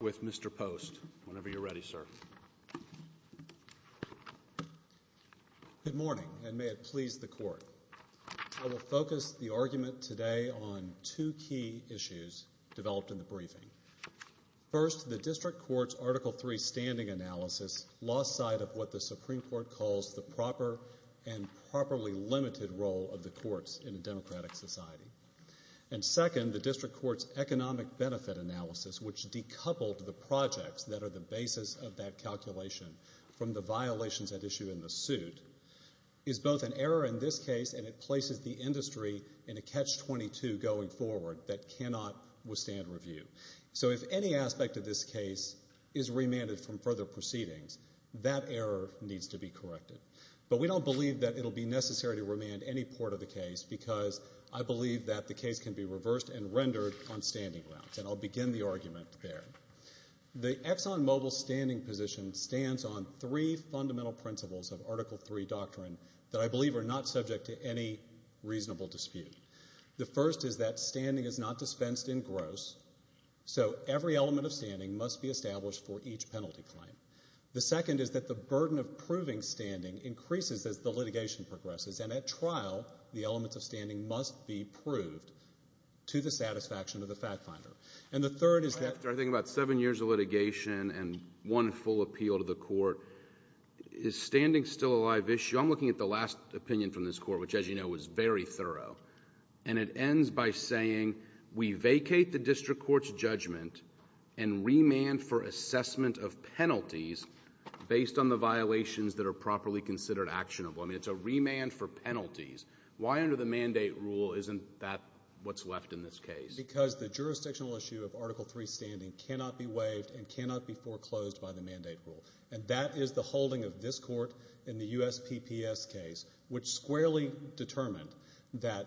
Good morning, and may it please the Court. I will focus the argument today on two key issues developed in the briefing. First, the District Court's Article III Standing Analysis lost sight of what the Supreme Court calls the proper and properly limited role of the courts in a democratic society. Second, the District Court's Economic Benefit Analysis, which decoupled the projects that are the basis of that calculation from the violations at issue in the suit, is both an error in this case and it places the industry in a Catch-22 going forward that cannot withstand review. So if any aspect of this case is remanded from further proceedings, that error needs to be corrected. But we don't believe that it will be necessary to remand any part of the case because I believe that the case can be reversed and rendered on standing grounds, and I'll begin the argument there. The ExxonMobil standing position stands on three fundamental principles of Article III doctrine that I believe are not subject to any reasonable dispute. The first is that standing is not dispensed in gross, so every element of standing must be established for each penalty claim. The second is that the burden of proving standing increases as the litigation progresses, and at trial, the elements of standing must be proved to the satisfaction of the fact finder. And the third is that— After I think about seven years of litigation and one full appeal to the court, is standing still a live issue? I'm looking at the last opinion from this court, which, as you know, was very thorough, and it ends by saying we vacate the district court's judgment and remand for assessment of penalties based on the violations that are properly considered actionable. I mean, it's a remand for penalties. Why under the mandate rule isn't that what's left in this case? Because the jurisdictional issue of Article III standing cannot be waived and cannot be foreclosed by the mandate rule, and that is the holding of this court in the USPPS case, which squarely determined that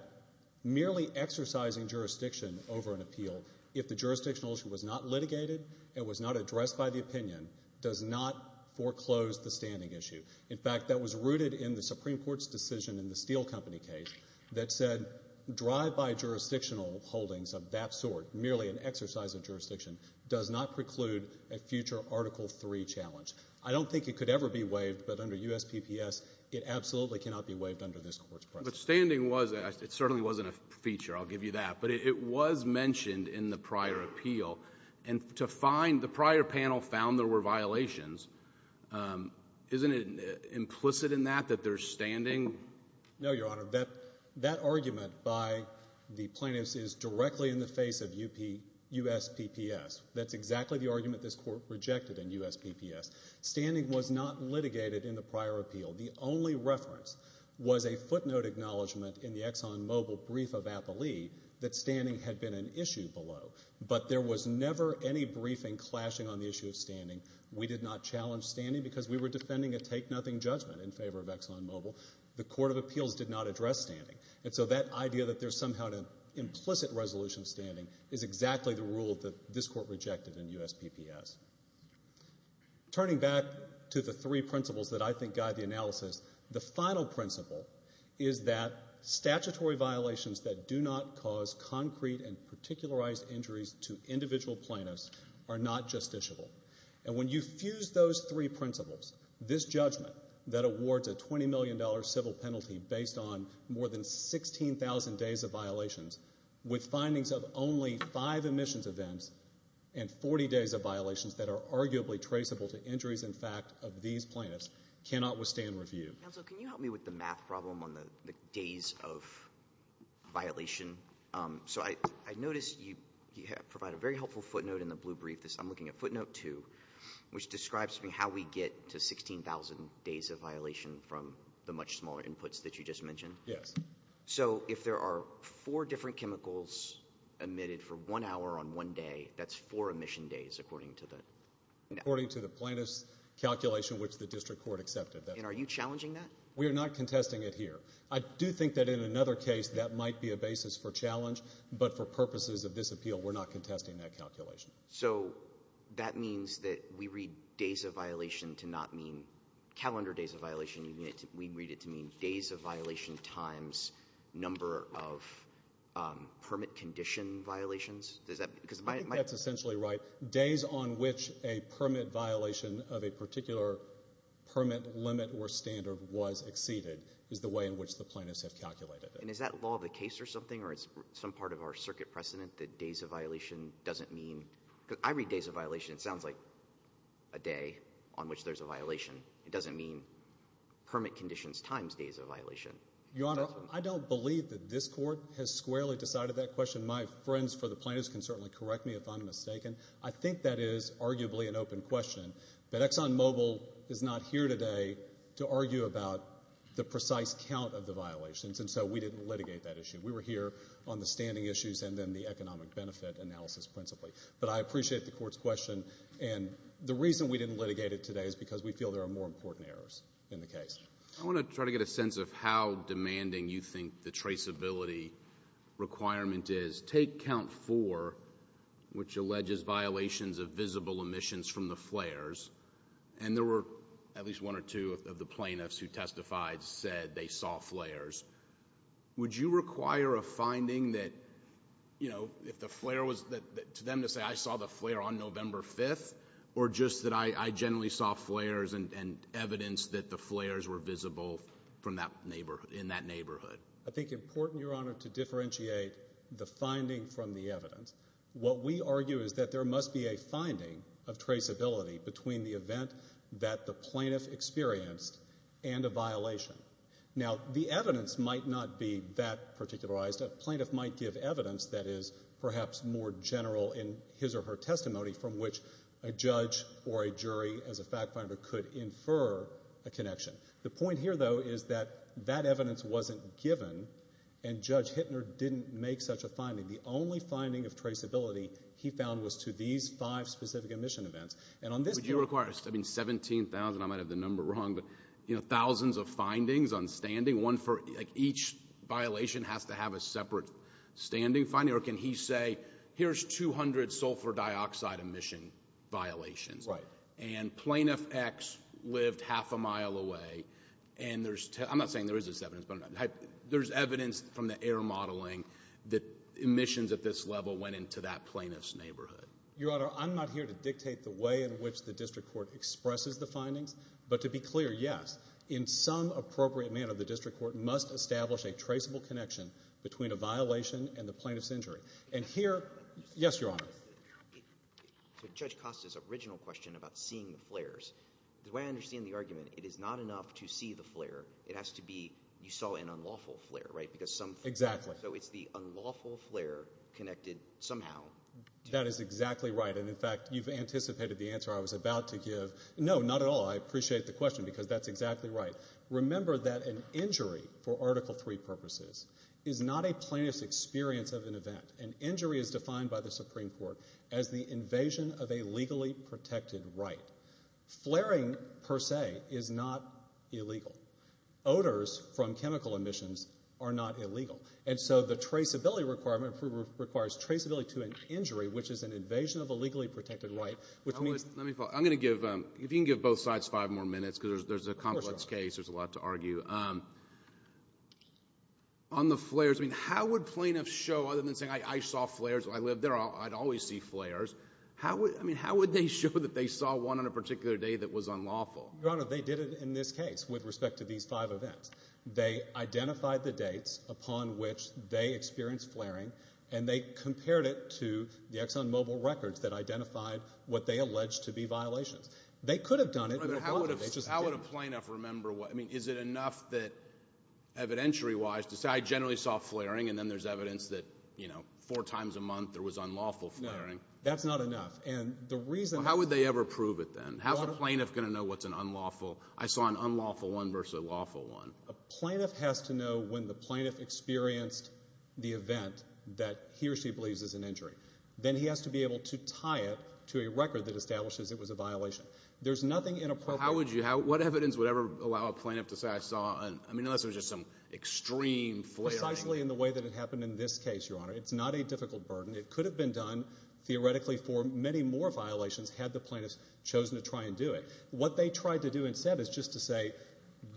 merely exercising jurisdiction over an appeal, if the jurisdictional issue was not litigated and was not addressed by the opinion, does not foreclose the standing issue. In fact, that was rooted in the Supreme Court's decision in the Steel Company case that said drive-by jurisdictional holdings of that sort, merely an exercise of jurisdiction, does not preclude a future Article III challenge. I don't think it could ever be waived, but under USPPS, it absolutely cannot be waived under this court's precedent. But standing was – it certainly wasn't a feature, I'll give you that, but it was mentioned in the prior appeal, and to find – the prior panel found there were violations. Isn't it implicit in that that there's standing? No, Your Honor. That argument by the plaintiffs is directly in the face of USPPS. That's exactly the argument this court rejected in USPPS. Standing was not litigated in the prior appeal. The only reference was a footnote acknowledgment in the ExxonMobil brief of Appley that standing had been an issue below. But there was never any briefing clashing on the issue of standing. We did not challenge standing because we were defending a take-nothing judgment in favor of ExxonMobil. The court of appeals did not address standing, and so that idea that there's somehow an implicit resolution of standing is exactly the rule that this court rejected in USPPS. Turning back to the three principles that I think guide the analysis, the final principle is that statutory violations that do not cause concrete and particularized injuries to individual plaintiffs are not justiciable. And when you fuse those three principles, this judgment that awards a $20 million civil penalty based on more than 16,000 days of violations with findings of only five admissions events and 40 days of violations that are arguably traceable to injuries, in fact, of these plaintiffs cannot withstand review. Counsel, can you help me with the math problem on the days of violation? So I noticed you provide a very helpful footnote in the blue brief. I'm looking at footnote two, which describes how we get to 16,000 days of violation from the much smaller inputs that you just mentioned. Yes. So if there are four different chemicals emitted for one hour on one day, that's four admission days, according to the— According to the plaintiff's calculation, which the district court accepted. And are you challenging that? We are not contesting it here. I do think that in another case, that might be a basis for challenge, but for purposes of this appeal, we're not contesting that calculation. So that means that we read days of violation to not mean calendar days of violation. We read it to mean days of violation times number of permit condition violations? Does that— I think that's essentially right. Days on which a permit violation of a particular permit limit or standard was exceeded is the way in which the plaintiffs have calculated it. And is that law of the case or something, or is it some part of our circuit precedent that days of violation doesn't mean— Because I read days of violation, it sounds like a day on which there's a violation. It doesn't mean permit conditions times days of violation. Your Honor, I don't believe that this court has squarely decided that question. My friends for the plaintiffs can certainly correct me if I'm mistaken. I think that is arguably an open question. But ExxonMobil is not here today to argue about the precise count of the violations, and so we didn't litigate that issue. We were here on the standing issues and then the economic benefit analysis principally. But I appreciate the court's question, and the reason we didn't litigate it today is because we feel there are more important errors in the case. I want to try to get a sense of how demanding you think the traceability requirement is. Take count four, which alleges violations of visible emissions from the flares, and there were at least one or two of the plaintiffs who testified said they saw flares. Would you require a finding that, you know, if the flare was to them to say, I saw the flare on November 5th, or just that I generally saw flares and evidence that the flares were visible in that neighborhood? I think it's important, Your Honor, to differentiate the finding from the evidence. What we argue is that there must be a finding of traceability between the event that the plaintiff experienced and a violation. Now, the evidence might not be that particularized. A plaintiff might give evidence that is perhaps more general in his or her testimony from which a judge or a jury as a fact finder could infer a connection. The point here, though, is that that evidence wasn't given, and Judge Hittner didn't make such a finding. The only finding of traceability he found was to these five specific emission events. Would you require, I mean, 17,000, I might have the number wrong, but, you know, thousands of findings on standing, one for each violation has to have a separate standing finding? Or can he say, here's 200 sulfur dioxide emission violations, and Plaintiff X lived half a mile away, and there's, I'm not saying there is this evidence, but there's evidence from the air modeling that emissions at this level went into that plaintiff's neighborhood. Your Honor, I'm not here to dictate the way in which the district court expresses the findings, but to be clear, yes, in some appropriate manner, the district court must establish a traceable connection between a violation and the plaintiff's injury. And here, yes, Your Honor. Judge Costa's original question about seeing the flares, the way I understand the argument, it is not enough to see the flare. It has to be, you saw an unlawful flare, right? Exactly. So it's the unlawful flare connected somehow. That is exactly right. And, in fact, you've anticipated the answer I was about to give. No, not at all. I appreciate the question because that's exactly right. Remember that an injury, for Article III purposes, is not a plaintiff's experience of an event. An injury is defined by the Supreme Court as the invasion of a legally protected right. Flaring, per se, is not illegal. Odors from chemical emissions are not illegal. And so the traceability requirement requires traceability to an injury, which is an invasion of a legally protected right, which means Let me follow. I'm going to give, if you can give both sides five more minutes because there's a complex case. There's a lot to argue. On the flares, I mean, how would plaintiffs show, other than saying, I saw flares, I lived there, I'd always see flares. I mean, how would they show that they saw one on a particular day that was unlawful? Your Honor, they did it in this case with respect to these five events. They identified the dates upon which they experienced flaring, and they compared it to the ExxonMobil records that identified what they alleged to be violations. They could have done it. But how would a plaintiff remember what? I mean, is it enough that evidentiary-wise to say, I generally saw flaring, and then there's evidence that, you know, four times a month there was unlawful flaring? No, that's not enough. How would they ever prove it then? How's a plaintiff going to know what's an unlawful, I saw an unlawful one versus a lawful one? A plaintiff has to know when the plaintiff experienced the event that he or she believes is an injury. Then he has to be able to tie it to a record that establishes it was a violation. There's nothing inappropriate. How would you, what evidence would ever allow a plaintiff to say, I saw, I mean, unless it was just some extreme flaring. Precisely in the way that it happened in this case, Your Honor. It's not a difficult burden. It could have been done theoretically for many more violations had the plaintiff chosen to try and do it. What they tried to do instead is just to say,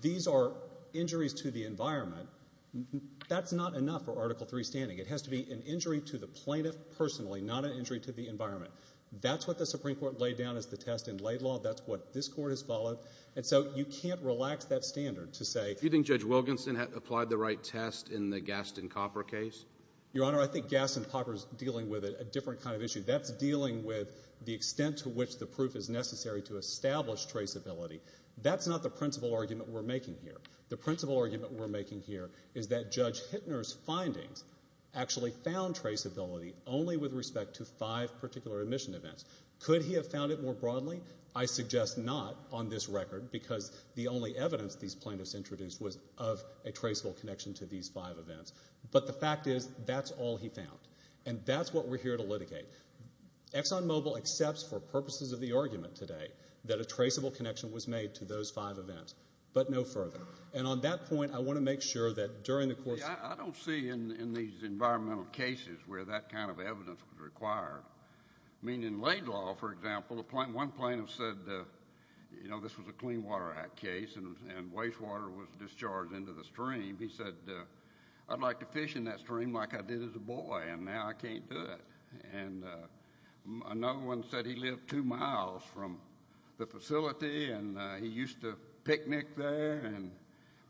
these are injuries to the environment. That's not enough for Article III standing. It has to be an injury to the plaintiff personally, not an injury to the environment. That's what the Supreme Court laid down as the test in Laidlaw. That's what this Court has followed. And so you can't relax that standard to say. Do you think Judge Wilkinson applied the right test in the Gaston Copper case? Your Honor, I think Gaston Copper is dealing with a different kind of issue. That's dealing with the extent to which the proof is necessary to establish traceability. That's not the principal argument we're making here. The principal argument we're making here is that Judge Hittner's findings actually found traceability only with respect to five particular admission events. Could he have found it more broadly? I suggest not on this record because the only evidence these plaintiffs introduced was of a traceable connection to these five events. But the fact is that's all he found, and that's what we're here to litigate. ExxonMobil accepts for purposes of the argument today that a traceable connection was made to those five events, but no further. And on that point, I want to make sure that during the course of the hearing. I don't see in these environmental cases where that kind of evidence was required. I mean, in Laidlaw, for example, one plaintiff said, you know, this was a Clean Water Act case and wastewater was discharged into the stream. He said, I'd like to fish in that stream like I did as a boy, and now I can't do it. And another one said he lived two miles from the facility and he used to picnic there and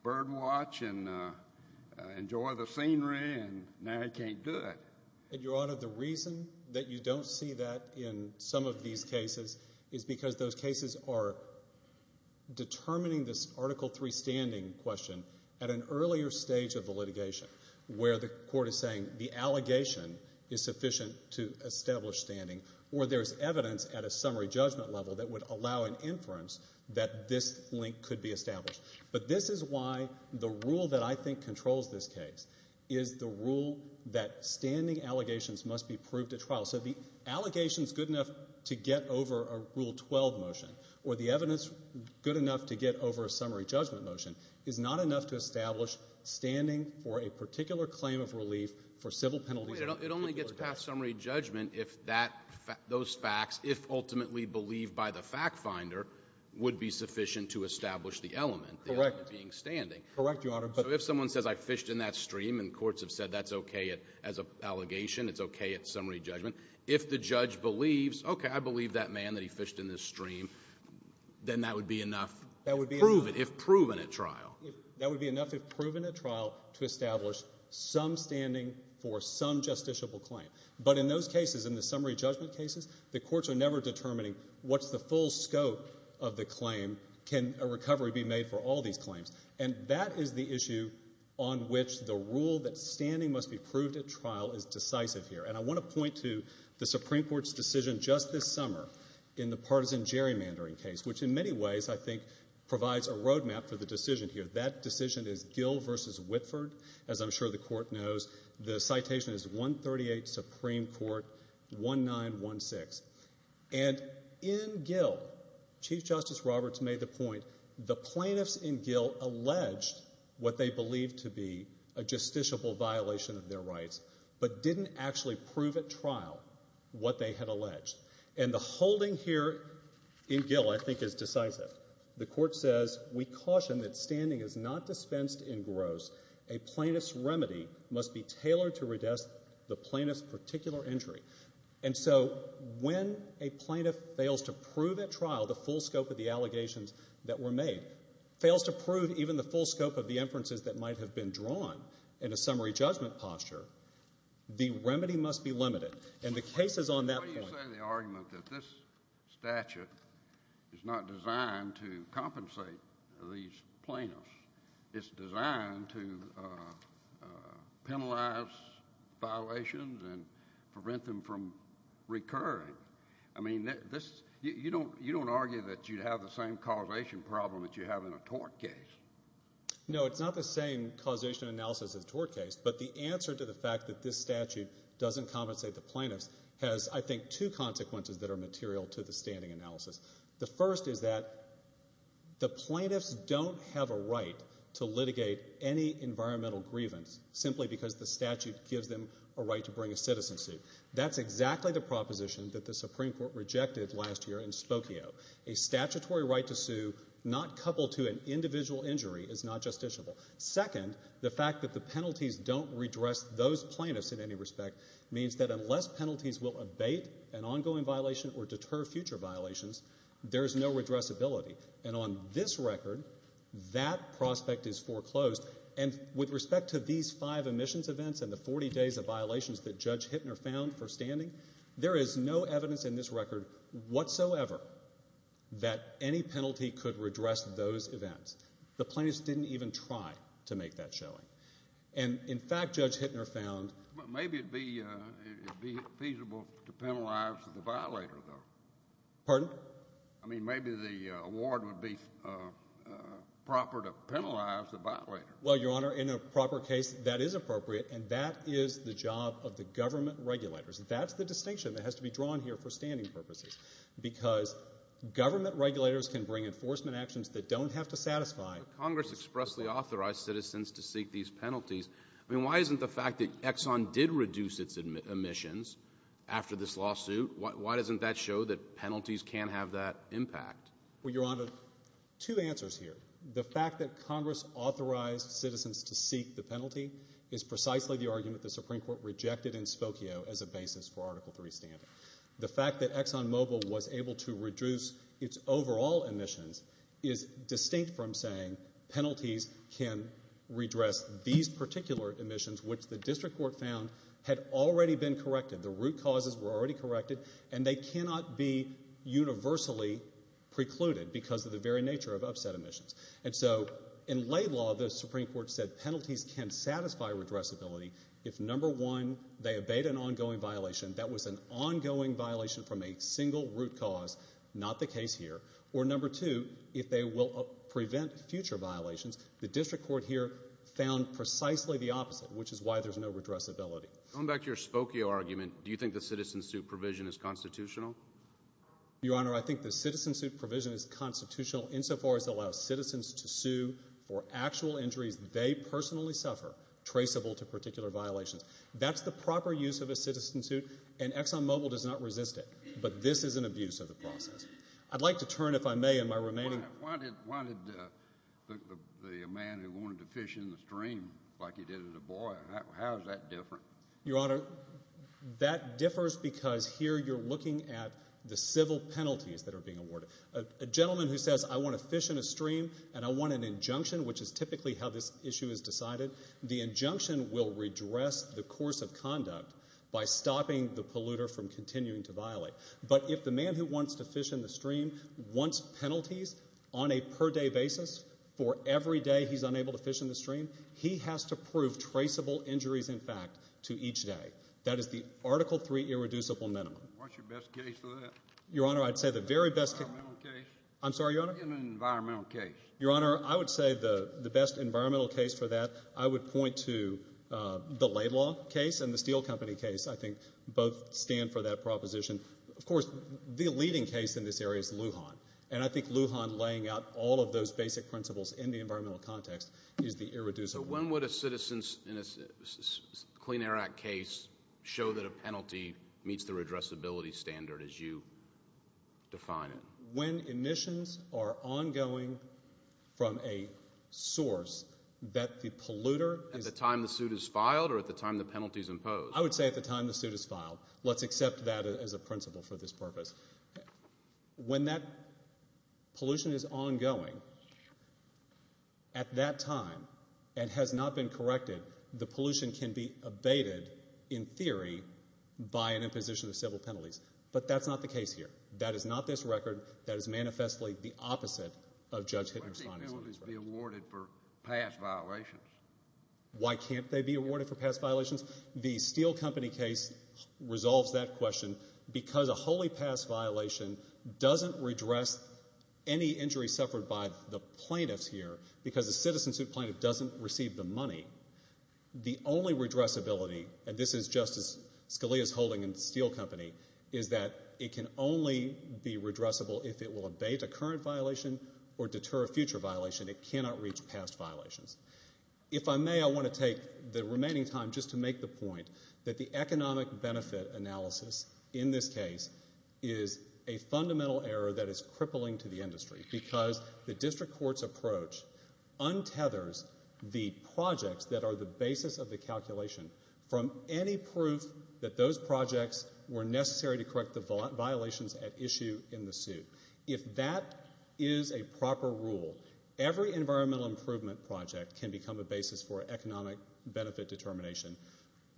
bird watch and enjoy the scenery, and now he can't do it. Your Honor, the reason that you don't see that in some of these cases is because those cases are determining this Article III standing question. At an earlier stage of the litigation where the court is saying the allegation is sufficient to establish standing or there's evidence at a summary judgment level that would allow an inference that this link could be established. But this is why the rule that I think controls this case is the rule that standing allegations must be proved at trial. So the allegations good enough to get over a Rule 12 motion or the evidence good enough to get over a summary judgment motion is not enough to establish standing for a particular claim of relief for civil penalties. It only gets past summary judgment if those facts, if ultimately believed by the fact finder, would be sufficient to establish the element, the element being standing. Correct, Your Honor. So if someone says I fished in that stream and courts have said that's okay as an allegation, it's okay at summary judgment, if the judge believes, okay, I believe that man that he fished in this stream, then that would be enough, prove it if proven at trial. That would be enough if proven at trial to establish some standing for some justiciable claim. But in those cases, in the summary judgment cases, the courts are never determining what's the full scope of the claim. Can a recovery be made for all these claims? And that is the issue on which the rule that standing must be proved at trial is decisive here. And I want to point to the Supreme Court's decision just this summer in the partisan gerrymandering case, which in many ways I think provides a roadmap for the decision here. That decision is Gill v. Whitford, as I'm sure the court knows. The citation is 138 Supreme Court, 1916. And in Gill, Chief Justice Roberts made the point, the plaintiffs in Gill alleged what they believed to be a justiciable violation of their rights but didn't actually prove at trial what they had alleged. And the holding here in Gill I think is decisive. The court says, we caution that standing is not dispensed in gross. A plaintiff's remedy must be tailored to redress the plaintiff's particular injury. And so when a plaintiff fails to prove at trial the full scope of the allegations that were made, fails to prove even the full scope of the inferences that might have been drawn in a summary judgment posture, the remedy must be limited. And the case is on that point. Why do you say the argument that this statute is not designed to compensate these plaintiffs? It's designed to penalize violations and prevent them from recurring? I mean, you don't argue that you'd have the same causation problem that you have in a tort case. No, it's not the same causation analysis as a tort case, but the answer to the fact that this statute doesn't compensate the plaintiffs has, I think, two consequences that are material to the standing analysis. The first is that the plaintiffs don't have a right to litigate any environmental grievance simply because the statute gives them a right to bring a citizen suit. That's exactly the proposition that the Supreme Court rejected last year in Spokio. A statutory right to sue not coupled to an individual injury is not justiciable. Second, the fact that the penalties don't redress those plaintiffs in any respect means that unless penalties will abate an ongoing violation or deter future violations, there is no redressability. And on this record, that prospect is foreclosed. And with respect to these five admissions events and the 40 days of violations that Judge Hittner found for standing, there is no evidence in this record whatsoever that any penalty could redress those events. The plaintiffs didn't even try to make that showing. And, in fact, Judge Hittner found Maybe it would be feasible to penalize the violator, though. Pardon? I mean, maybe the award would be proper to penalize the violator. Well, Your Honor, in a proper case, that is appropriate, and that is the job of the government regulators. That's the distinction that has to be drawn here for standing purposes because government regulators can bring enforcement actions that don't have to satisfy Congress expressly authorized citizens to seek these penalties. I mean, why isn't the fact that Exxon did reduce its admissions after this lawsuit, why doesn't that show that penalties can have that impact? Well, Your Honor, two answers here. The fact that Congress authorized citizens to seek the penalty is precisely the argument the Supreme Court rejected in Spokio as a basis for Article III standing. The fact that ExxonMobil was able to reduce its overall admissions is distinct from saying penalties can redress these particular admissions, which the district court found had already been corrected. The root causes were already corrected, and they cannot be universally precluded because of the very nature of upset admissions. And so in lay law, the Supreme Court said penalties can satisfy redressability if, number one, they abate an ongoing violation. That was an ongoing violation from a single root cause. Not the case here. Or, number two, if they will prevent future violations. The district court here found precisely the opposite, which is why there's no redressability. Going back to your Spokio argument, do you think the citizen suit provision is constitutional? Your Honor, I think the citizen suit provision is constitutional insofar as it allows citizens to sue for actual injuries they personally suffer, traceable to particular violations. That's the proper use of a citizen suit, and ExxonMobil does not resist it. But this is an abuse of the process. I'd like to turn, if I may, in my remaining... Why did the man who wanted to fish in the stream like he did as a boy, how is that different? Your Honor, that differs because here you're looking at the civil penalties that are being awarded. A gentleman who says, I want to fish in a stream and I want an injunction, which is typically how this issue is decided, the injunction will redress the course of conduct by stopping the polluter from continuing to violate. But if the man who wants to fish in the stream wants penalties on a per-day basis for every day he's unable to fish in the stream, he has to prove traceable injuries, in fact, to each day. That is the Article III irreducible minimum. What's your best case for that? Your Honor, I'd say the very best... Environmental case. I'm sorry, Your Honor? Give me an environmental case. Your Honor, I would say the best environmental case for that, I would point to the Laidlaw case and the Steel Company case. I think both stand for that proposition. Of course, the leading case in this area is Lujan, and I think Lujan laying out all of those basic principles in the environmental context is the irreducible... So when would a citizen in a Clean Air Act case show that a penalty meets the redressability standard as you define it? When emissions are ongoing from a source that the polluter... At the time the suit is filed or at the time the penalty is imposed? I would say at the time the suit is filed. Let's accept that as a principle for this purpose. When that pollution is ongoing at that time and has not been corrected, the pollution can be abated in theory by an imposition of civil penalties. But that's not the case here. That is not this record. That is manifestly the opposite of Judge Hitton's... Why can't penalties be awarded for past violations? Why can't they be awarded for past violations? The Steel Company case resolves that question because a wholly past violation doesn't redress any injury suffered by the plaintiffs here because the citizen suit plaintiff doesn't receive the money. The only redressability, and this is Justice Scalia's holding in Steel Company, is that it can only be redressable if it will abate a current violation or deter a future violation. It cannot reach past violations. If I may, I want to take the remaining time just to make the point that the economic benefit analysis in this case is a fundamental error that is crippling to the industry because the district court's approach untethers the projects that are the basis of the calculation from any proof that those projects were necessary to correct the violations at issue in the suit. If that is a proper rule, every environmental improvement project can become a basis for economic benefit determination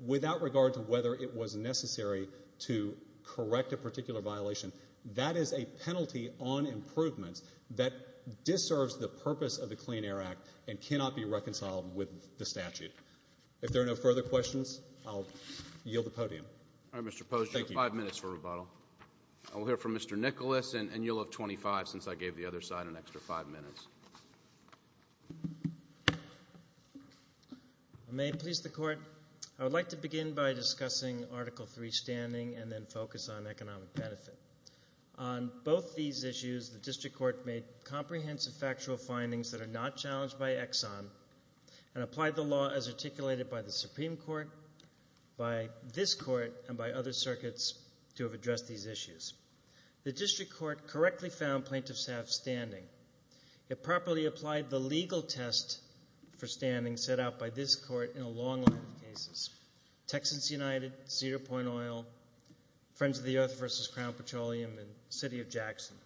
without regard to whether it was necessary to correct a particular violation. That is a penalty on improvements that disserves the purpose of the Clean Air Act and cannot be reconciled with the statute. If there are no further questions, I'll yield the podium. All right, Mr. Posner. Thank you. You have five minutes for rebuttal. I'll hear from Mr. Nicholas, and you'll have 25 since I gave the other side an extra five minutes. May it please the Court. I would like to begin by discussing Article III standing and then focus on economic benefit. On both these issues, the district court made comprehensive factual findings that are not challenged by Exxon and applied the law as articulated by the Supreme Court, by this court, and by other circuits to have addressed these issues. The district court correctly found plaintiffs have standing. It properly applied the legal test for standing set out by this court in a long line of cases, Texans United, Cedar Point Oil, Friends of the Earth v. Crown Petroleum, and City of Jackson.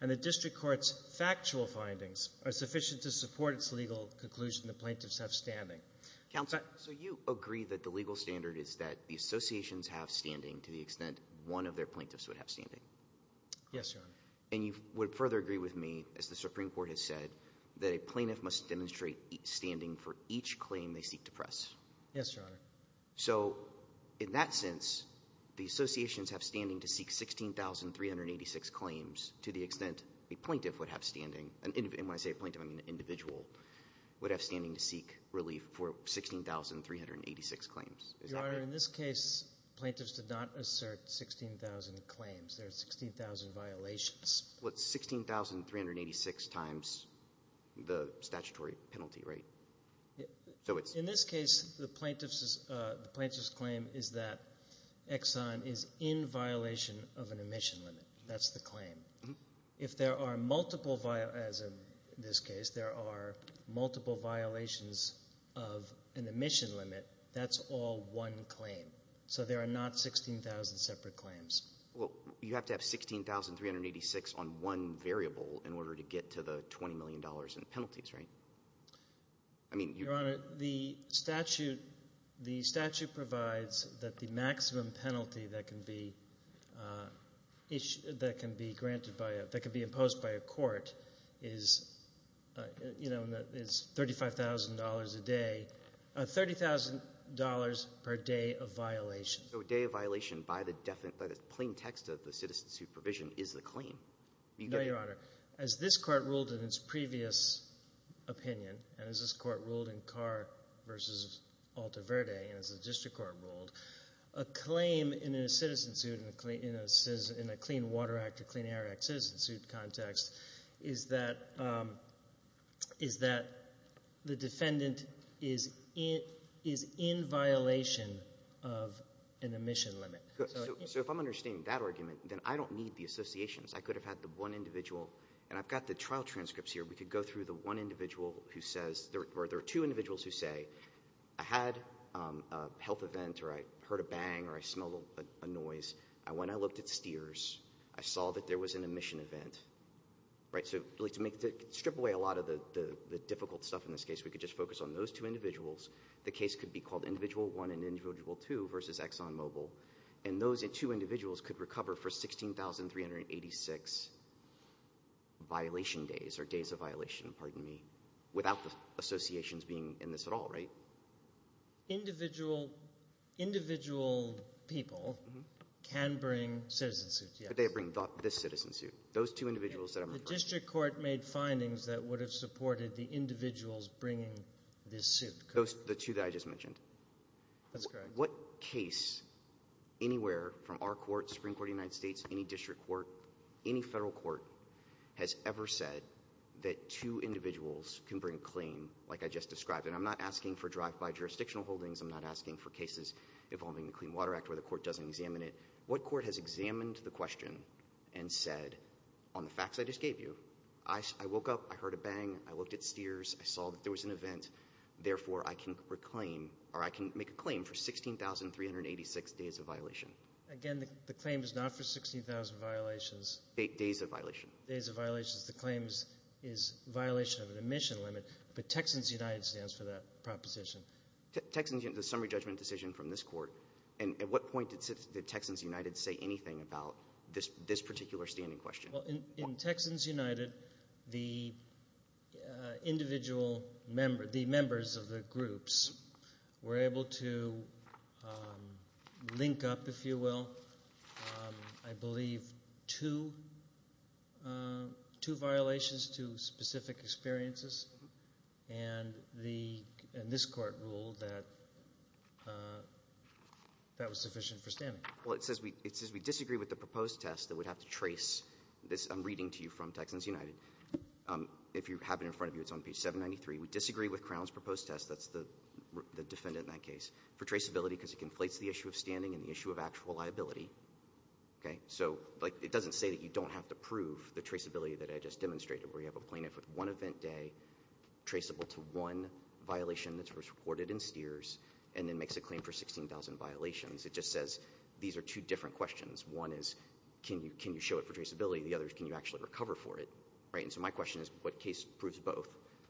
And the district court's factual findings are sufficient to support its legal conclusion that plaintiffs have standing. Counsel? So you agree that the legal standard is that the associations have standing to the extent one of their plaintiffs would have standing? Yes, Your Honor. And you would further agree with me, as the Supreme Court has said, that a plaintiff must demonstrate standing for each claim they seek to press? Yes, Your Honor. So in that sense, the associations have standing to seek 16,386 claims to the extent a plaintiff would have standing. And when I say a plaintiff, I mean an individual would have standing to seek relief for 16,386 claims. Your Honor, in this case, plaintiffs did not assert 16,000 claims. There are 16,000 violations. Well, it's 16,386 times the statutory penalty, right? In this case, the plaintiff's claim is that Exxon is in violation of an emission limit. That's the claim. If there are multiple violations, as in this case, there are multiple violations of an emission limit, that's all one claim. So there are not 16,000 separate claims. Well, you have to have 16,386 on one variable in order to get to the $20 million in penalties, right? Your Honor, the statute provides that the maximum penalty that can be granted by – that can be imposed by a court is $35,000 a day – $30,000 per day of violation. So a day of violation by the plain text of the citizen's supervision is the claim. No, Your Honor. As this court ruled in its previous opinion, and as this court ruled in Carr v. Altaverde and as the district court ruled, a claim in a citizen suit, in a Clean Water Act or Clean Air Act citizen suit context, is that the defendant is in violation of an emission limit. So if I'm understanding that argument, then I don't need the associations. I could have had the one individual – and I've got the trial transcripts here. We could go through the one individual who says – or there are two individuals who say, I had a health event or I heard a bang or I smelled a noise. When I looked at STEERS, I saw that there was an emission event. So to strip away a lot of the difficult stuff in this case, we could just focus on those two individuals. The case could be called Individual 1 and Individual 2 versus ExxonMobil. And those two individuals could recover for 16,386 violation days or days of violation, pardon me, without the associations being in this at all, right? Individual people can bring citizen suits, yes. But they bring this citizen suit. Those two individuals that I'm referring to. The district court made findings that would have supported the individuals bringing this suit. The two that I just mentioned? That's correct. What case anywhere from our court, Supreme Court of the United States, any district court, any federal court has ever said that two individuals can bring a claim like I just described? And I'm not asking for drive-by jurisdictional holdings. I'm not asking for cases involving the Clean Water Act where the court doesn't examine it. What court has examined the question and said, on the facts I just gave you, I woke up, I heard a bang, I looked at steers, I saw that there was an event, therefore I can reclaim or I can make a claim for 16,386 days of violation? Again, the claim is not for 16,000 violations. Days of violation. Days of violations. The claim is violation of an admission limit. But Texans United stands for that proposition. Texans United is a summary judgment decision from this court. And at what point did Texans United say anything about this particular standing question? In Texans United, the individual members, the members of the groups, were able to link up, if you will, I believe two violations, two specific experiences. And this court ruled that that was sufficient for standing. Well, it says we disagree with the proposed test that would have to trace this. I'm reading to you from Texans United. If you have it in front of you, it's on page 793. We disagree with Crown's proposed test, that's the defendant in that case, for traceability because it conflates the issue of standing and the issue of actual liability. So it doesn't say that you don't have to prove the traceability that I just demonstrated, where you have a plaintiff with one event day traceable to one violation that's reported in STEERS and then makes a claim for 16,000 violations. It just says these are two different questions. One is can you show it for traceability? The other is can you actually recover for it? So my question is what case proves both?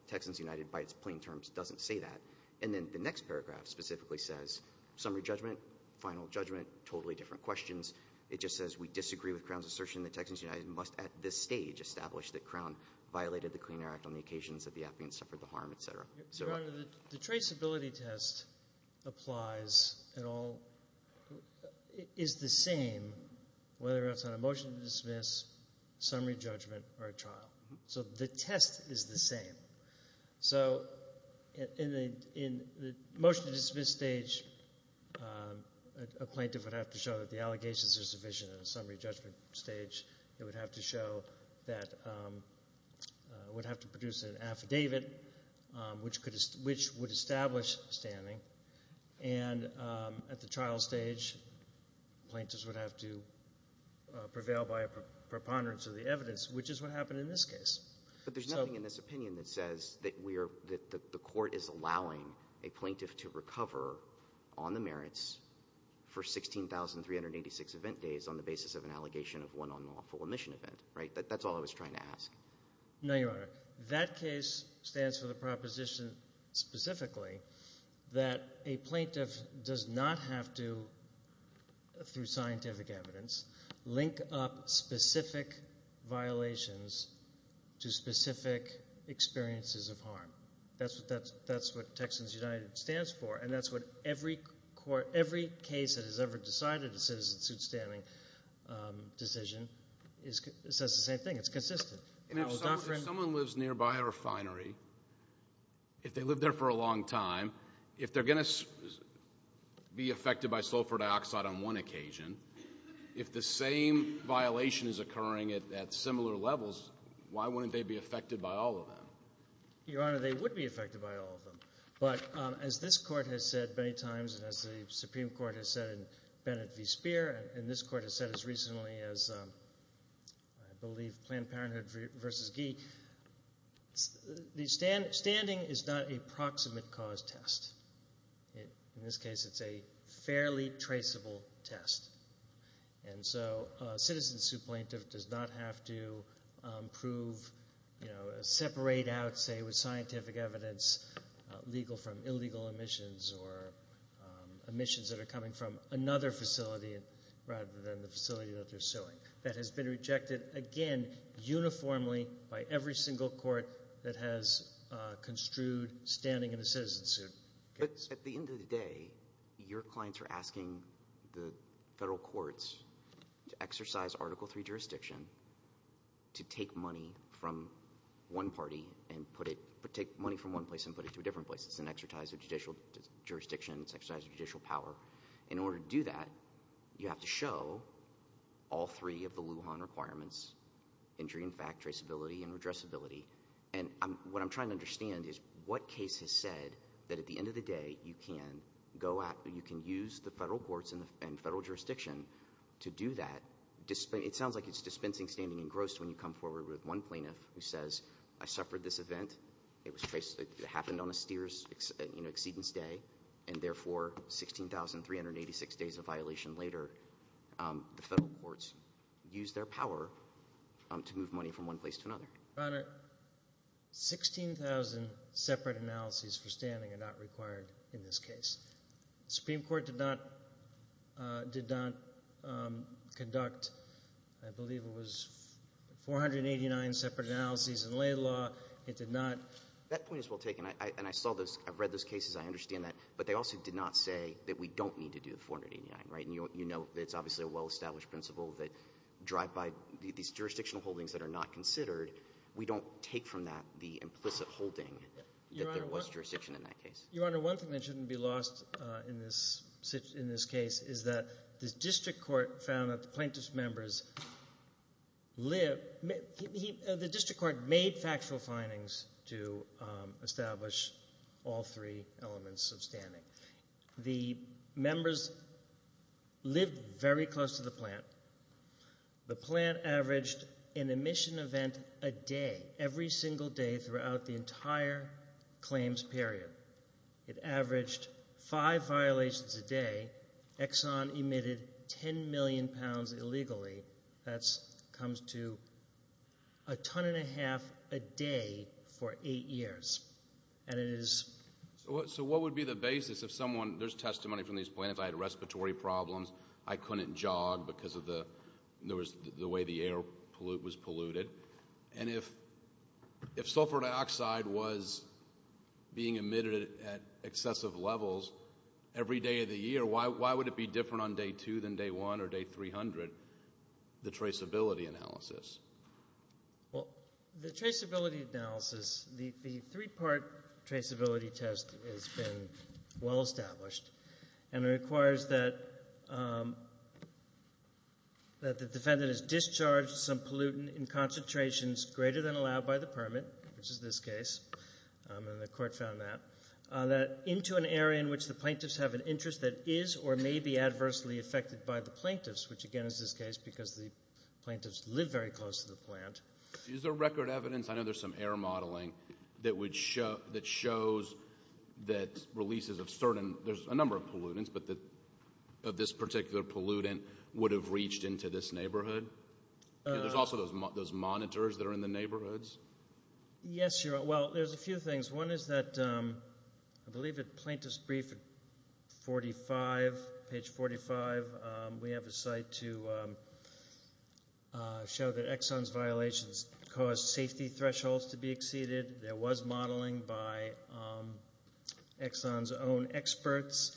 Texans United, by its plain terms, doesn't say that. And then the next paragraph specifically says summary judgment, final judgment, totally different questions. It just says we disagree with Crown's assertion that Texans United must at this stage establish that Crown violated the Clean Air Act on the occasions that the applicant suffered the harm, et cetera. Your Honor, the traceability test applies at all – is the same whether it's on a motion to dismiss, summary judgment, or a trial. So the test is the same. So in the motion to dismiss stage, a plaintiff would have to show that the allegations are sufficient. In a summary judgment stage, it would have to show that – would have to produce an affidavit, which would establish standing. And at the trial stage, plaintiffs would have to prevail by a preponderance of the evidence, which is what happened in this case. But there's nothing in this opinion that says that we are – that the court is allowing a plaintiff to recover on the merits for 16,386 event days on the basis of an allegation of one unlawful omission event, right? That's all I was trying to ask. No, Your Honor. That case stands for the proposition specifically that a plaintiff does not have to, through scientific evidence, link up specific violations to specific experiences of harm. That's what Texans United stands for, and that's what every court – every case that has ever decided a citizen-suit standing decision says the same thing. It's consistent. And if someone lives nearby a refinery, if they live there for a long time, if they're going to be affected by sulfur dioxide on one occasion, if the same violation is occurring at similar levels, why wouldn't they be affected by all of them? Your Honor, they would be affected by all of them. But as this Court has said many times and as the Supreme Court has said in Bennett v. Speer and this Court has said as recently as, I believe, Planned Parenthood v. Gee, the standing is not a proximate cause test. In this case, it's a fairly traceable test. And so a citizen-suit plaintiff does not have to prove – separate out, say, with scientific evidence, legal from illegal omissions or omissions that are coming from another facility rather than the facility that they're suing. That has been rejected, again, uniformly by every single court that has construed standing in a citizen-suit. At the end of the day, your clients are asking the federal courts to exercise Article III jurisdiction to take money from one party and put it – take money from one place and put it to a different place. It's an exercise of judicial jurisdiction. It's an exercise of judicial power. In order to do that, you have to show all three of the Lujan requirements, injury in fact, traceability, and redressability. And what I'm trying to understand is what case has said that at the end of the day you can go out and you can use the federal courts and federal jurisdiction to do that. It sounds like it's dispensing standing engrossed when you come forward with one plaintiff who says, I suffered this event. It happened on a steers exceedance day, and therefore 16,386 days of violation later, the federal courts used their power to move money from one place to another. Your Honor, 16,000 separate analyses for standing are not required in this case. The Supreme Court did not conduct, I believe it was 489 separate analyses in lay law. It did not – That point is well taken, and I saw those – I've read those cases. I understand that. But they also did not say that we don't need to do the 489, right? And you know it's obviously a well-established principle that drive by these jurisdictional holdings that are not considered. We don't take from that the implicit holding that there was jurisdiction in that case. Your Honor, one thing that shouldn't be lost in this case is that the district court found that the plaintiff's members lived – the district court made factual findings to establish all three elements of standing. The members lived very close to the plant. The plant averaged an emission event a day, every single day throughout the entire claims period. It averaged five violations a day. Exxon emitted 10 million pounds illegally. That comes to a ton and a half a day for eight years, and it is – So what would be the basis if someone – there's testimony from these plaintiffs. I had respiratory problems. I couldn't jog because of the way the air was polluted. And if sulfur dioxide was being emitted at excessive levels every day of the year, why would it be different on day two than day one or day 300, the traceability analysis? Well, the traceability analysis – the three-part traceability test has been well-established, and it requires that the defendant has discharged some pollutant in concentrations greater than allowed by the permit, which is this case, and the court found that, into an area in which the plaintiffs have an interest that is or may be adversely affected by the plaintiffs, which, again, is this case because the plaintiffs live very close to the plant. Is there record evidence – I know there's some air modeling that shows that releases of certain – there's a number of pollutants, but that this particular pollutant would have reached into this neighborhood. There's also those monitors that are in the neighborhoods. Yes, well, there's a few things. One is that I believe at Plaintiff's Brief at 45, page 45, we have a site to show that Exxon's violations caused safety thresholds to be exceeded. There was modeling by Exxon's own experts,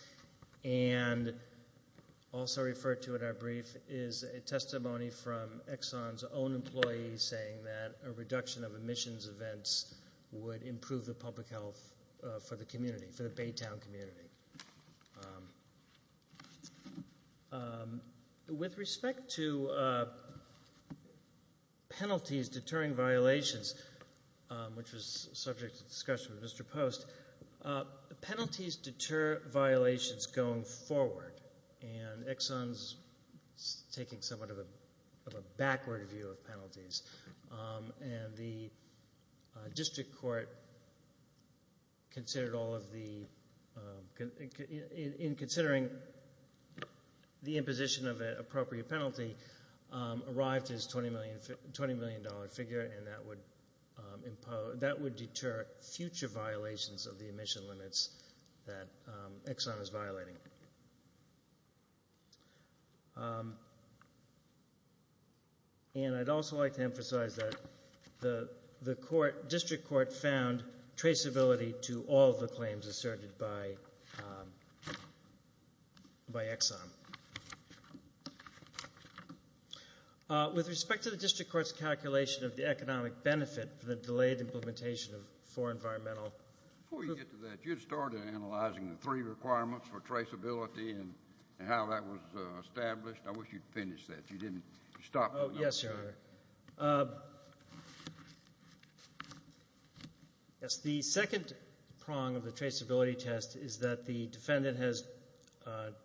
and also referred to in our brief is a testimony from Exxon's own employees saying that a reduction of emissions events would improve the public health for the community, for the Baytown community. With respect to penalties deterring violations, which was subject to discussion with Mr. Post, penalties deter violations going forward, and Exxon's taking somewhat of a backward view of penalties, and the district court considered all of the – in considering the imposition of an appropriate penalty, arrived to this $20 million figure, and that would deter future violations of the emission limits that Exxon is violating. And I'd also like to emphasize that the court, district court found traceability to all of the claims asserted by Exxon. With respect to the district court's calculation of the economic benefit for the delayed implementation of four environmental – Before we get to that, you had started analyzing the three requirements for traceability. And how that was established. I wish you'd finish that. You didn't stop. Oh, yes, Your Honor. Yes, the second prong of the traceability test is that the defendant has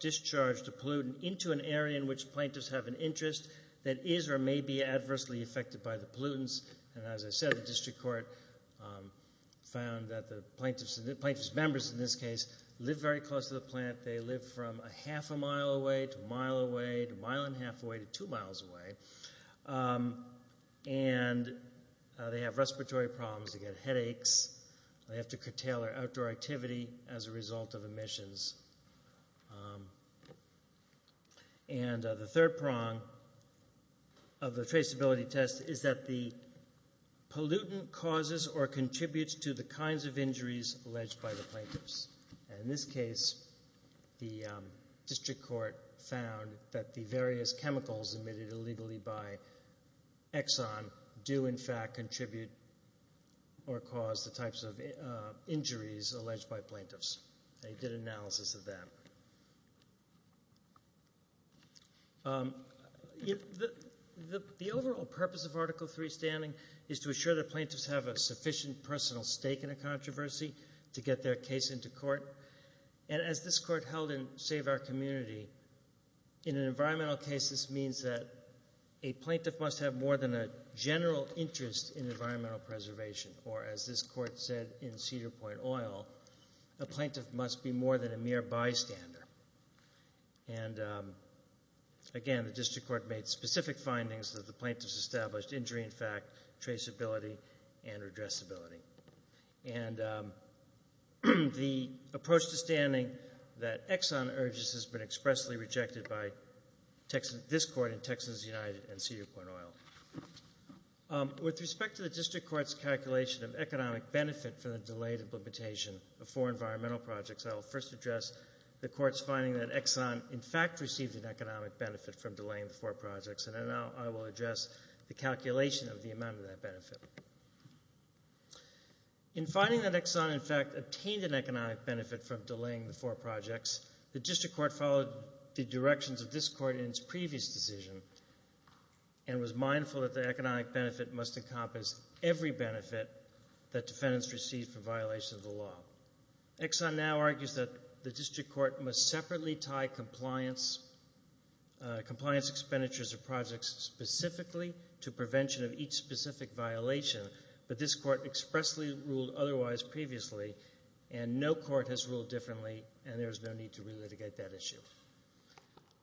discharged a pollutant into an area in which plaintiffs have an interest that is or may be adversely affected by the pollutants. And as I said, the district court found that the plaintiff's members in this case live very close to the plant. They live from a half a mile away to a mile away to a mile and a half away to two miles away. And they have respiratory problems. They get headaches. They have to curtail their outdoor activity as a result of emissions. And the third prong of the traceability test is that the pollutant causes or contributes to the kinds of injuries alleged by the plaintiffs. And in this case, the district court found that the various chemicals emitted illegally by Exxon do in fact contribute or cause the types of injuries alleged by plaintiffs. They did analysis of that. The overall purpose of Article III standing is to assure that plaintiffs have a sufficient personal stake in a controversy to get their case into court. And as this court held in Save Our Community, in an environmental case, this means that a plaintiff must have more than a general interest in environmental preservation. Or as this court said in Cedar Point Oil, a plaintiff must be more than a mere bystander. And again, the district court made specific findings that the plaintiffs established injury in fact, traceability, and redressability. And the approach to standing that Exxon urges has been expressly rejected by this court and Texans United and Cedar Point Oil. With respect to the district court's calculation of economic benefit for the delayed implementation of four environmental projects, I will first address the court's finding that Exxon in fact received an economic benefit from delaying the four projects, and then I will address the calculation of the amount of that benefit. In finding that Exxon in fact obtained an economic benefit from delaying the four projects, the district court followed the directions of this court in its previous decision and was mindful that the economic benefit must encompass every benefit that defendants received for violation of the law. Exxon now argues that the district court must separately tie compliance expenditures of projects specifically to prevention of each specific violation, but this court expressly ruled otherwise previously, and no court has ruled differently, and there is no need to relitigate that issue.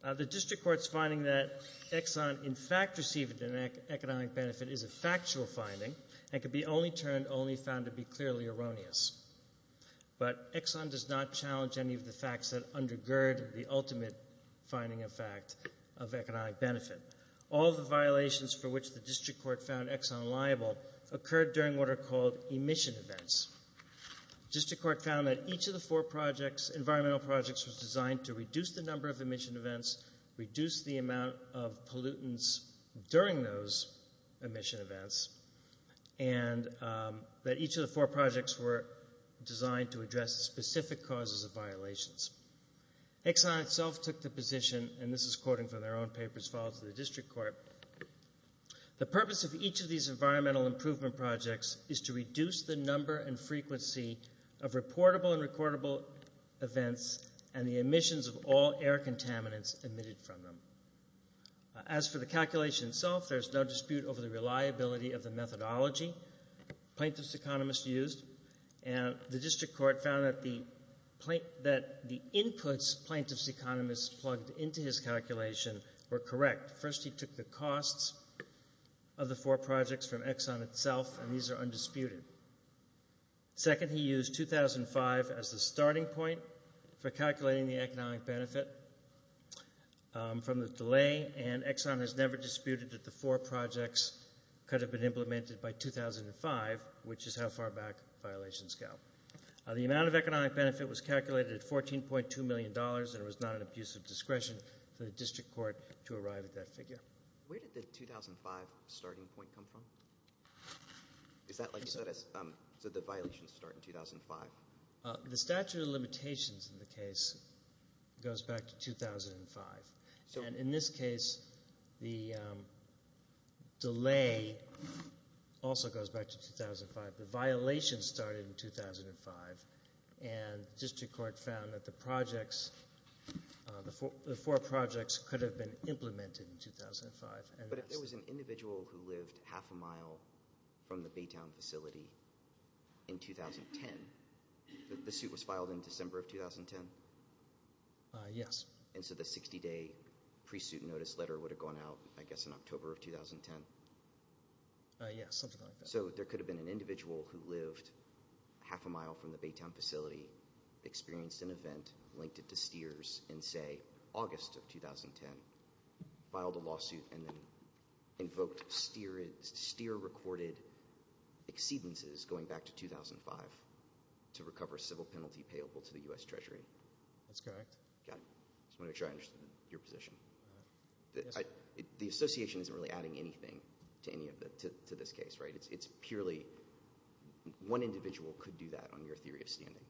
The district court's finding that Exxon in fact received an economic benefit is a factual finding and can be only found to be clearly erroneous, but Exxon does not challenge any of the facts that undergird the ultimate finding of fact of economic benefit. All of the violations for which the district court found Exxon liable occurred during what are called emission events. The district court found that each of the four environmental projects was designed to reduce the number of emission events, reduce the amount of pollutants during those emission events, and that each of the four projects were designed to address specific causes of violations. Exxon itself took the position, and this is quoting from their own papers filed to the district court, the purpose of each of these environmental improvement projects is to reduce the number and frequency of reportable and recordable events and the emissions of all air contaminants emitted from them. As for the calculation itself, there's no dispute over the reliability of the methodology plaintiff's economist used, and the district court found that the inputs plaintiff's economist plugged into his calculation were correct. First, he took the costs of the four projects from Exxon itself, and these are undisputed. Second, he used 2005 as the starting point for calculating the economic benefit from the delay, and Exxon has never disputed that the four projects could have been implemented by 2005, which is how far back violations go. The amount of economic benefit was calculated at $14.2 million, and it was not an abuse of discretion for the district court to arrive at that figure. Where did the 2005 starting point come from? Is that like you said, so the violations start in 2005? The statute of limitations in the case goes back to 2005, and in this case the delay also goes back to 2005. The violations started in 2005, and the district court found that the four projects could have been implemented in 2005. But if there was an individual who lived half a mile from the Baytown facility in 2010, the suit was filed in December of 2010? Yes. And so the 60-day pre-suit notice letter would have gone out, I guess, in October of 2010? Yes, something like that. So there could have been an individual who lived half a mile from the Baytown facility, experienced an event linked to STEERS in, say, August of 2010, filed a lawsuit and then invoked STEER-recorded exceedances going back to 2005 to recover a civil penalty payable to the U.S. Treasury? That's correct. Got it. I just wanted to make sure I understood your position. The association isn't really adding anything to this case, right? It's purely one individual could do that on your theory of standing.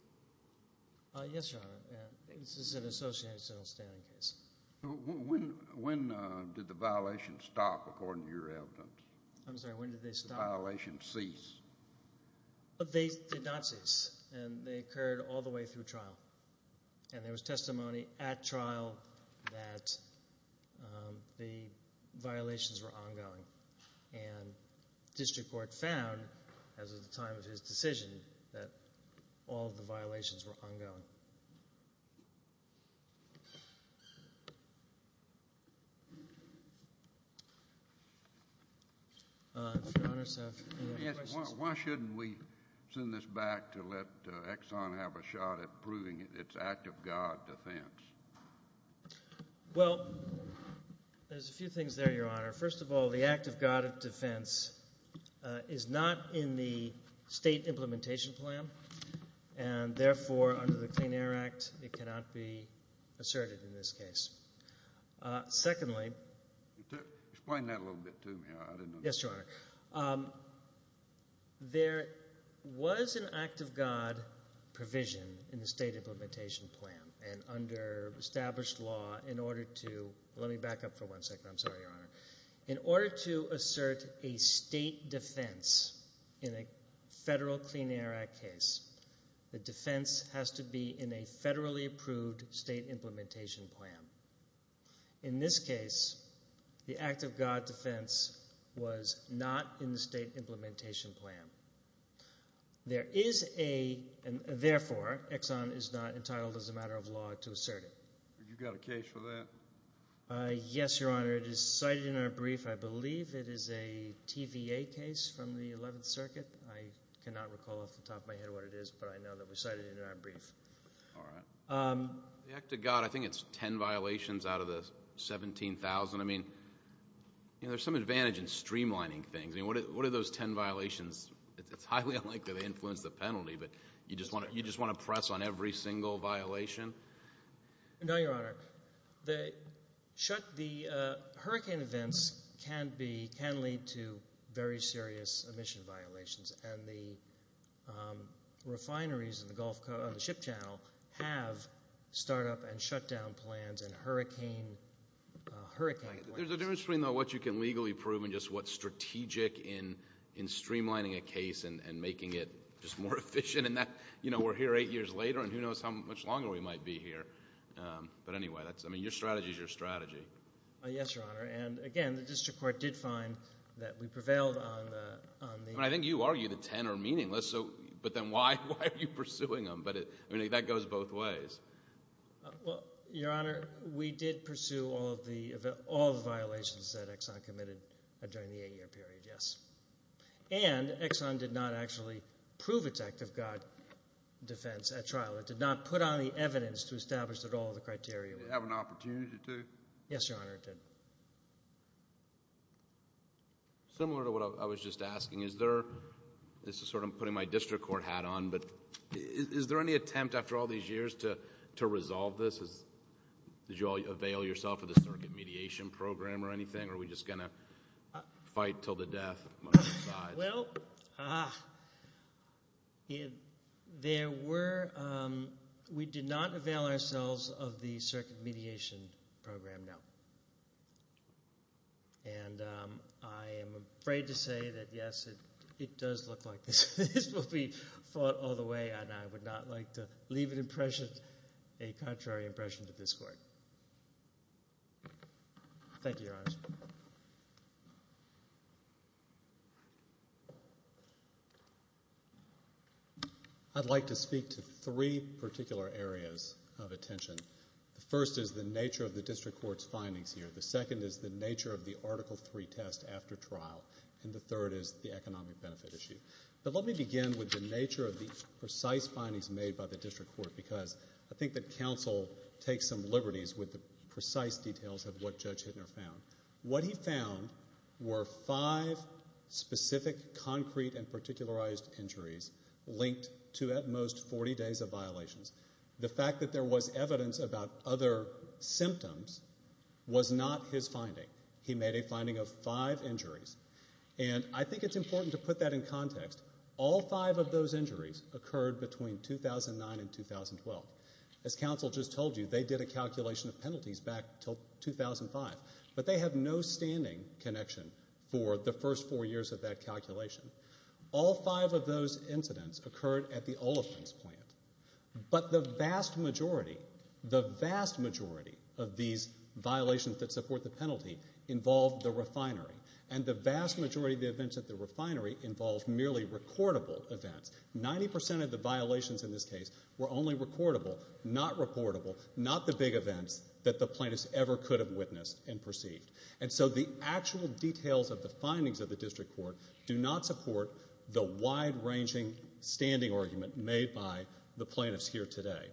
Yes, Your Honor. This is an associational standing case. When did the violation stop, according to your evidence? I'm sorry, when did they stop? The violation ceased. They did not cease, and they occurred all the way through trial. And there was testimony at trial that the violations were ongoing, and district court found, as of the time of his decision, that all of the violations were ongoing. Why shouldn't we send this back to let Exxon have a shot at proving it's act of God defense? Well, there's a few things there, Your Honor. First of all, the act of God defense is not in the state implementation plan, and therefore under the Clean Air Act it cannot be asserted in this case. Secondly, there was an act of God provision in the state implementation plan, and under established law in order to, let me back up for one second, I'm sorry, Your Honor. In order to assert a state defense in a federal Clean Air Act case, the defense has to be in a federally approved state implementation plan. In this case, the act of God defense was not in the state implementation plan. There is a, and therefore Exxon is not entitled as a matter of law to assert it. Have you got a case for that? Yes, Your Honor. It is cited in our brief. I believe it is a TVA case from the 11th Circuit. I cannot recall off the top of my head what it is, but I know that it was cited in our brief. All right. The act of God, I think it's ten violations out of the 17,000. I mean, there's some advantage in streamlining things. I mean, what are those ten violations? It's highly unlikely they influence the penalty, but you just want to press on every single violation? No, Your Honor. The hurricane events can lead to very serious emission violations, and the refineries on the ship channel have startup and shutdown plans and hurricane plans. There's a difference between what you can legally prove and just what's strategic in streamlining a case and making it just more efficient. We're here eight years later, and who knows how much longer we might be here. But anyway, your strategy is your strategy. Yes, Your Honor. And again, the district court did find that we prevailed on the— I think you argued that ten are meaningless, but then why are you pursuing them? I mean, that goes both ways. Well, Your Honor, we did pursue all the violations that Exxon committed during the eight-year period, yes. And Exxon did not actually prove its act of God defense at trial. It did not put on the evidence to establish that all the criteria were— Did it have an opportunity to? Yes, Your Honor, it did. Similar to what I was just asking, is there—this is sort of putting my district court hat on, but is there any attempt after all these years to resolve this? Did you all avail yourself of the circuit mediation program or anything, or are we just going to fight until the death? Well, there were—we did not avail ourselves of the circuit mediation program, no. And I am afraid to say that, yes, it does look like this will be fought all the way, and I would not like to leave an impression, a contrary impression to this court. Thank you, Your Honor. I'd like to speak to three particular areas of attention. The first is the nature of the district court's findings here. The second is the nature of the Article III test after trial, and the third is the economic benefit issue. But let me begin with the nature of the precise findings made by the district court because I think that counsel takes some liberties with the precise details of what Judge Hittner found. What he found were five specific concrete and particularized injuries linked to at most 40 days of violations. The fact that there was evidence about other symptoms was not his finding. He made a finding of five injuries, and I think it's important to put that in context. All five of those injuries occurred between 2009 and 2012. As counsel just told you, they did a calculation of penalties back until 2005, but they have no standing connection for the first four years of that calculation. All five of those incidents occurred at the Oliphant's plant, but the vast majority, the vast majority of these violations that support the penalty involved the refinery, and the vast majority of the events at the refinery involved merely recordable events. Ninety percent of the violations in this case were only recordable, not reportable, not the big events that the plaintiffs ever could have witnessed and perceived. And so the actual details of the findings of the district court do not support the wide-ranging standing argument made by the plaintiffs here today.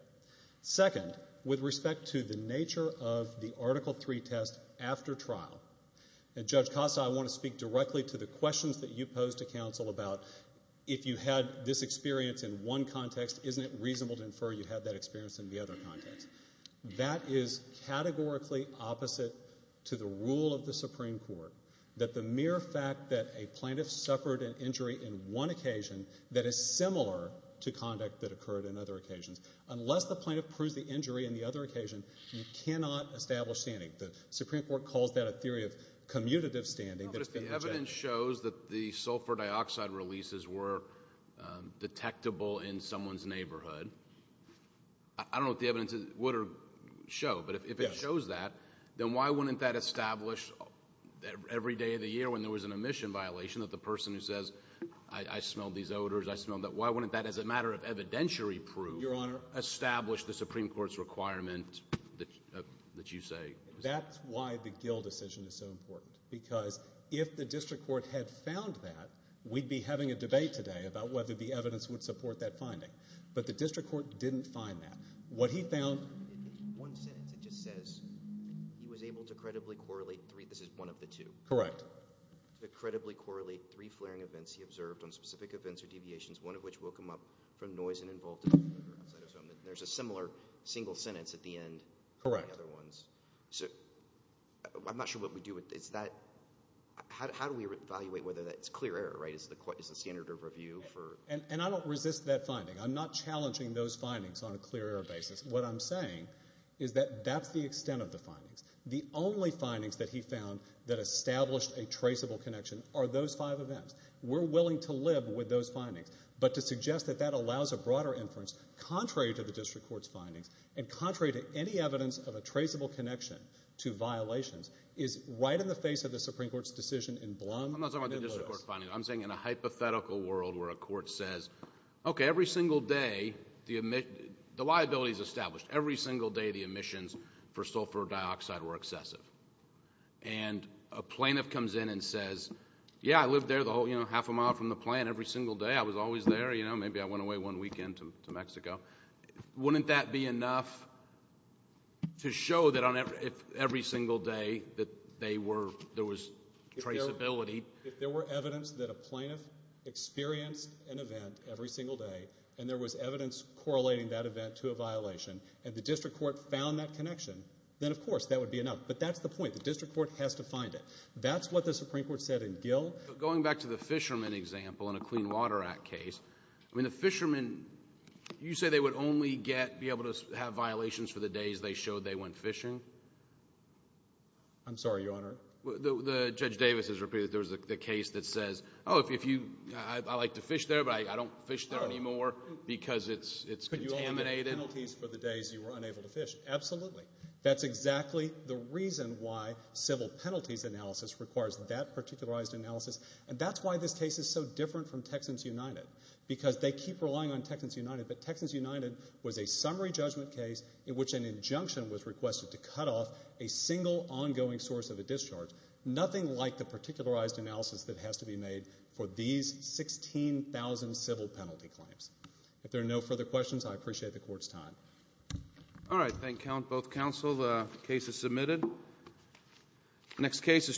Second, with respect to the nature of the Article III test after trial, and Judge Costa, I want to speak directly to the questions that you posed to counsel about if you had this experience in one context, isn't it reasonable to infer you had that experience in the other context? That is categorically opposite to the rule of the Supreme Court, that the mere fact that a plaintiff suffered an injury in one occasion that is similar to conduct that occurred in other occasions. Unless the plaintiff proves the injury in the other occasion, you cannot establish standing. The Supreme Court calls that a theory of commutative standing. No, but if the evidence shows that the sulfur dioxide releases were detectable in someone's neighborhood, I don't know if the evidence would show, but if it shows that, then why wouldn't that establish every day of the year when there was an omission violation that the person who says, I smelled these odors, I smelled that, why wouldn't that as a matter of evidentiary proof establish the Supreme Court's requirement that you say? That's why the Gill decision is so important, because if the district court had found that, we'd be having a debate today about whether the evidence would support that finding. But the district court didn't find that. What he found – In one sentence it just says he was able to credibly correlate three – this is one of the two. Correct. To credibly correlate three flaring events he observed on specific events or deviations, and there's a similar single sentence at the end of the other ones. Correct. So I'm not sure what we do with that. How do we evaluate whether that's clear error? Is the standard of review for – And I don't resist that finding. I'm not challenging those findings on a clear error basis. What I'm saying is that that's the extent of the findings. The only findings that he found that established a traceable connection are those five events. We're willing to live with those findings, but to suggest that that allows a broader inference contrary to the district court's findings and contrary to any evidence of a traceable connection to violations is right in the face of the Supreme Court's decision in Blum v. Lewis. I'm not talking about the district court finding. I'm saying in a hypothetical world where a court says, okay, every single day the liabilities established, every single day the emissions for sulfur dioxide were excessive. And a plaintiff comes in and says, yeah, I lived there half a mile from the plant every single day. I was always there. Maybe I went away one weekend to Mexico. Wouldn't that be enough to show that every single day that there was traceability? If there were evidence that a plaintiff experienced an event every single day and there was evidence correlating that event to a violation and the district court found that connection, then, of course, that would be enough. But that's the point. The district court has to find it. That's what the Supreme Court said in Gill. Going back to the fishermen example in a Clean Water Act case, I mean, the fishermen, you say they would only be able to have violations for the days they showed they went fishing? I'm sorry, Your Honor. Judge Davis has repeated that there was a case that says, oh, I like to fish there, but I don't fish there anymore because it's contaminated. Could you only have penalties for the days you were unable to fish? Absolutely. That's exactly the reason why civil penalties analysis requires that particularized analysis, and that's why this case is so different from Texans United because they keep relying on Texans United, but Texans United was a summary judgment case in which an injunction was requested to cut off a single ongoing source of a discharge, nothing like the particularized analysis that has to be made for these 16,000 civil penalty claims. If there are no further questions, I appreciate the Court's time. All right. Thank both counsel. The case is submitted. Next case is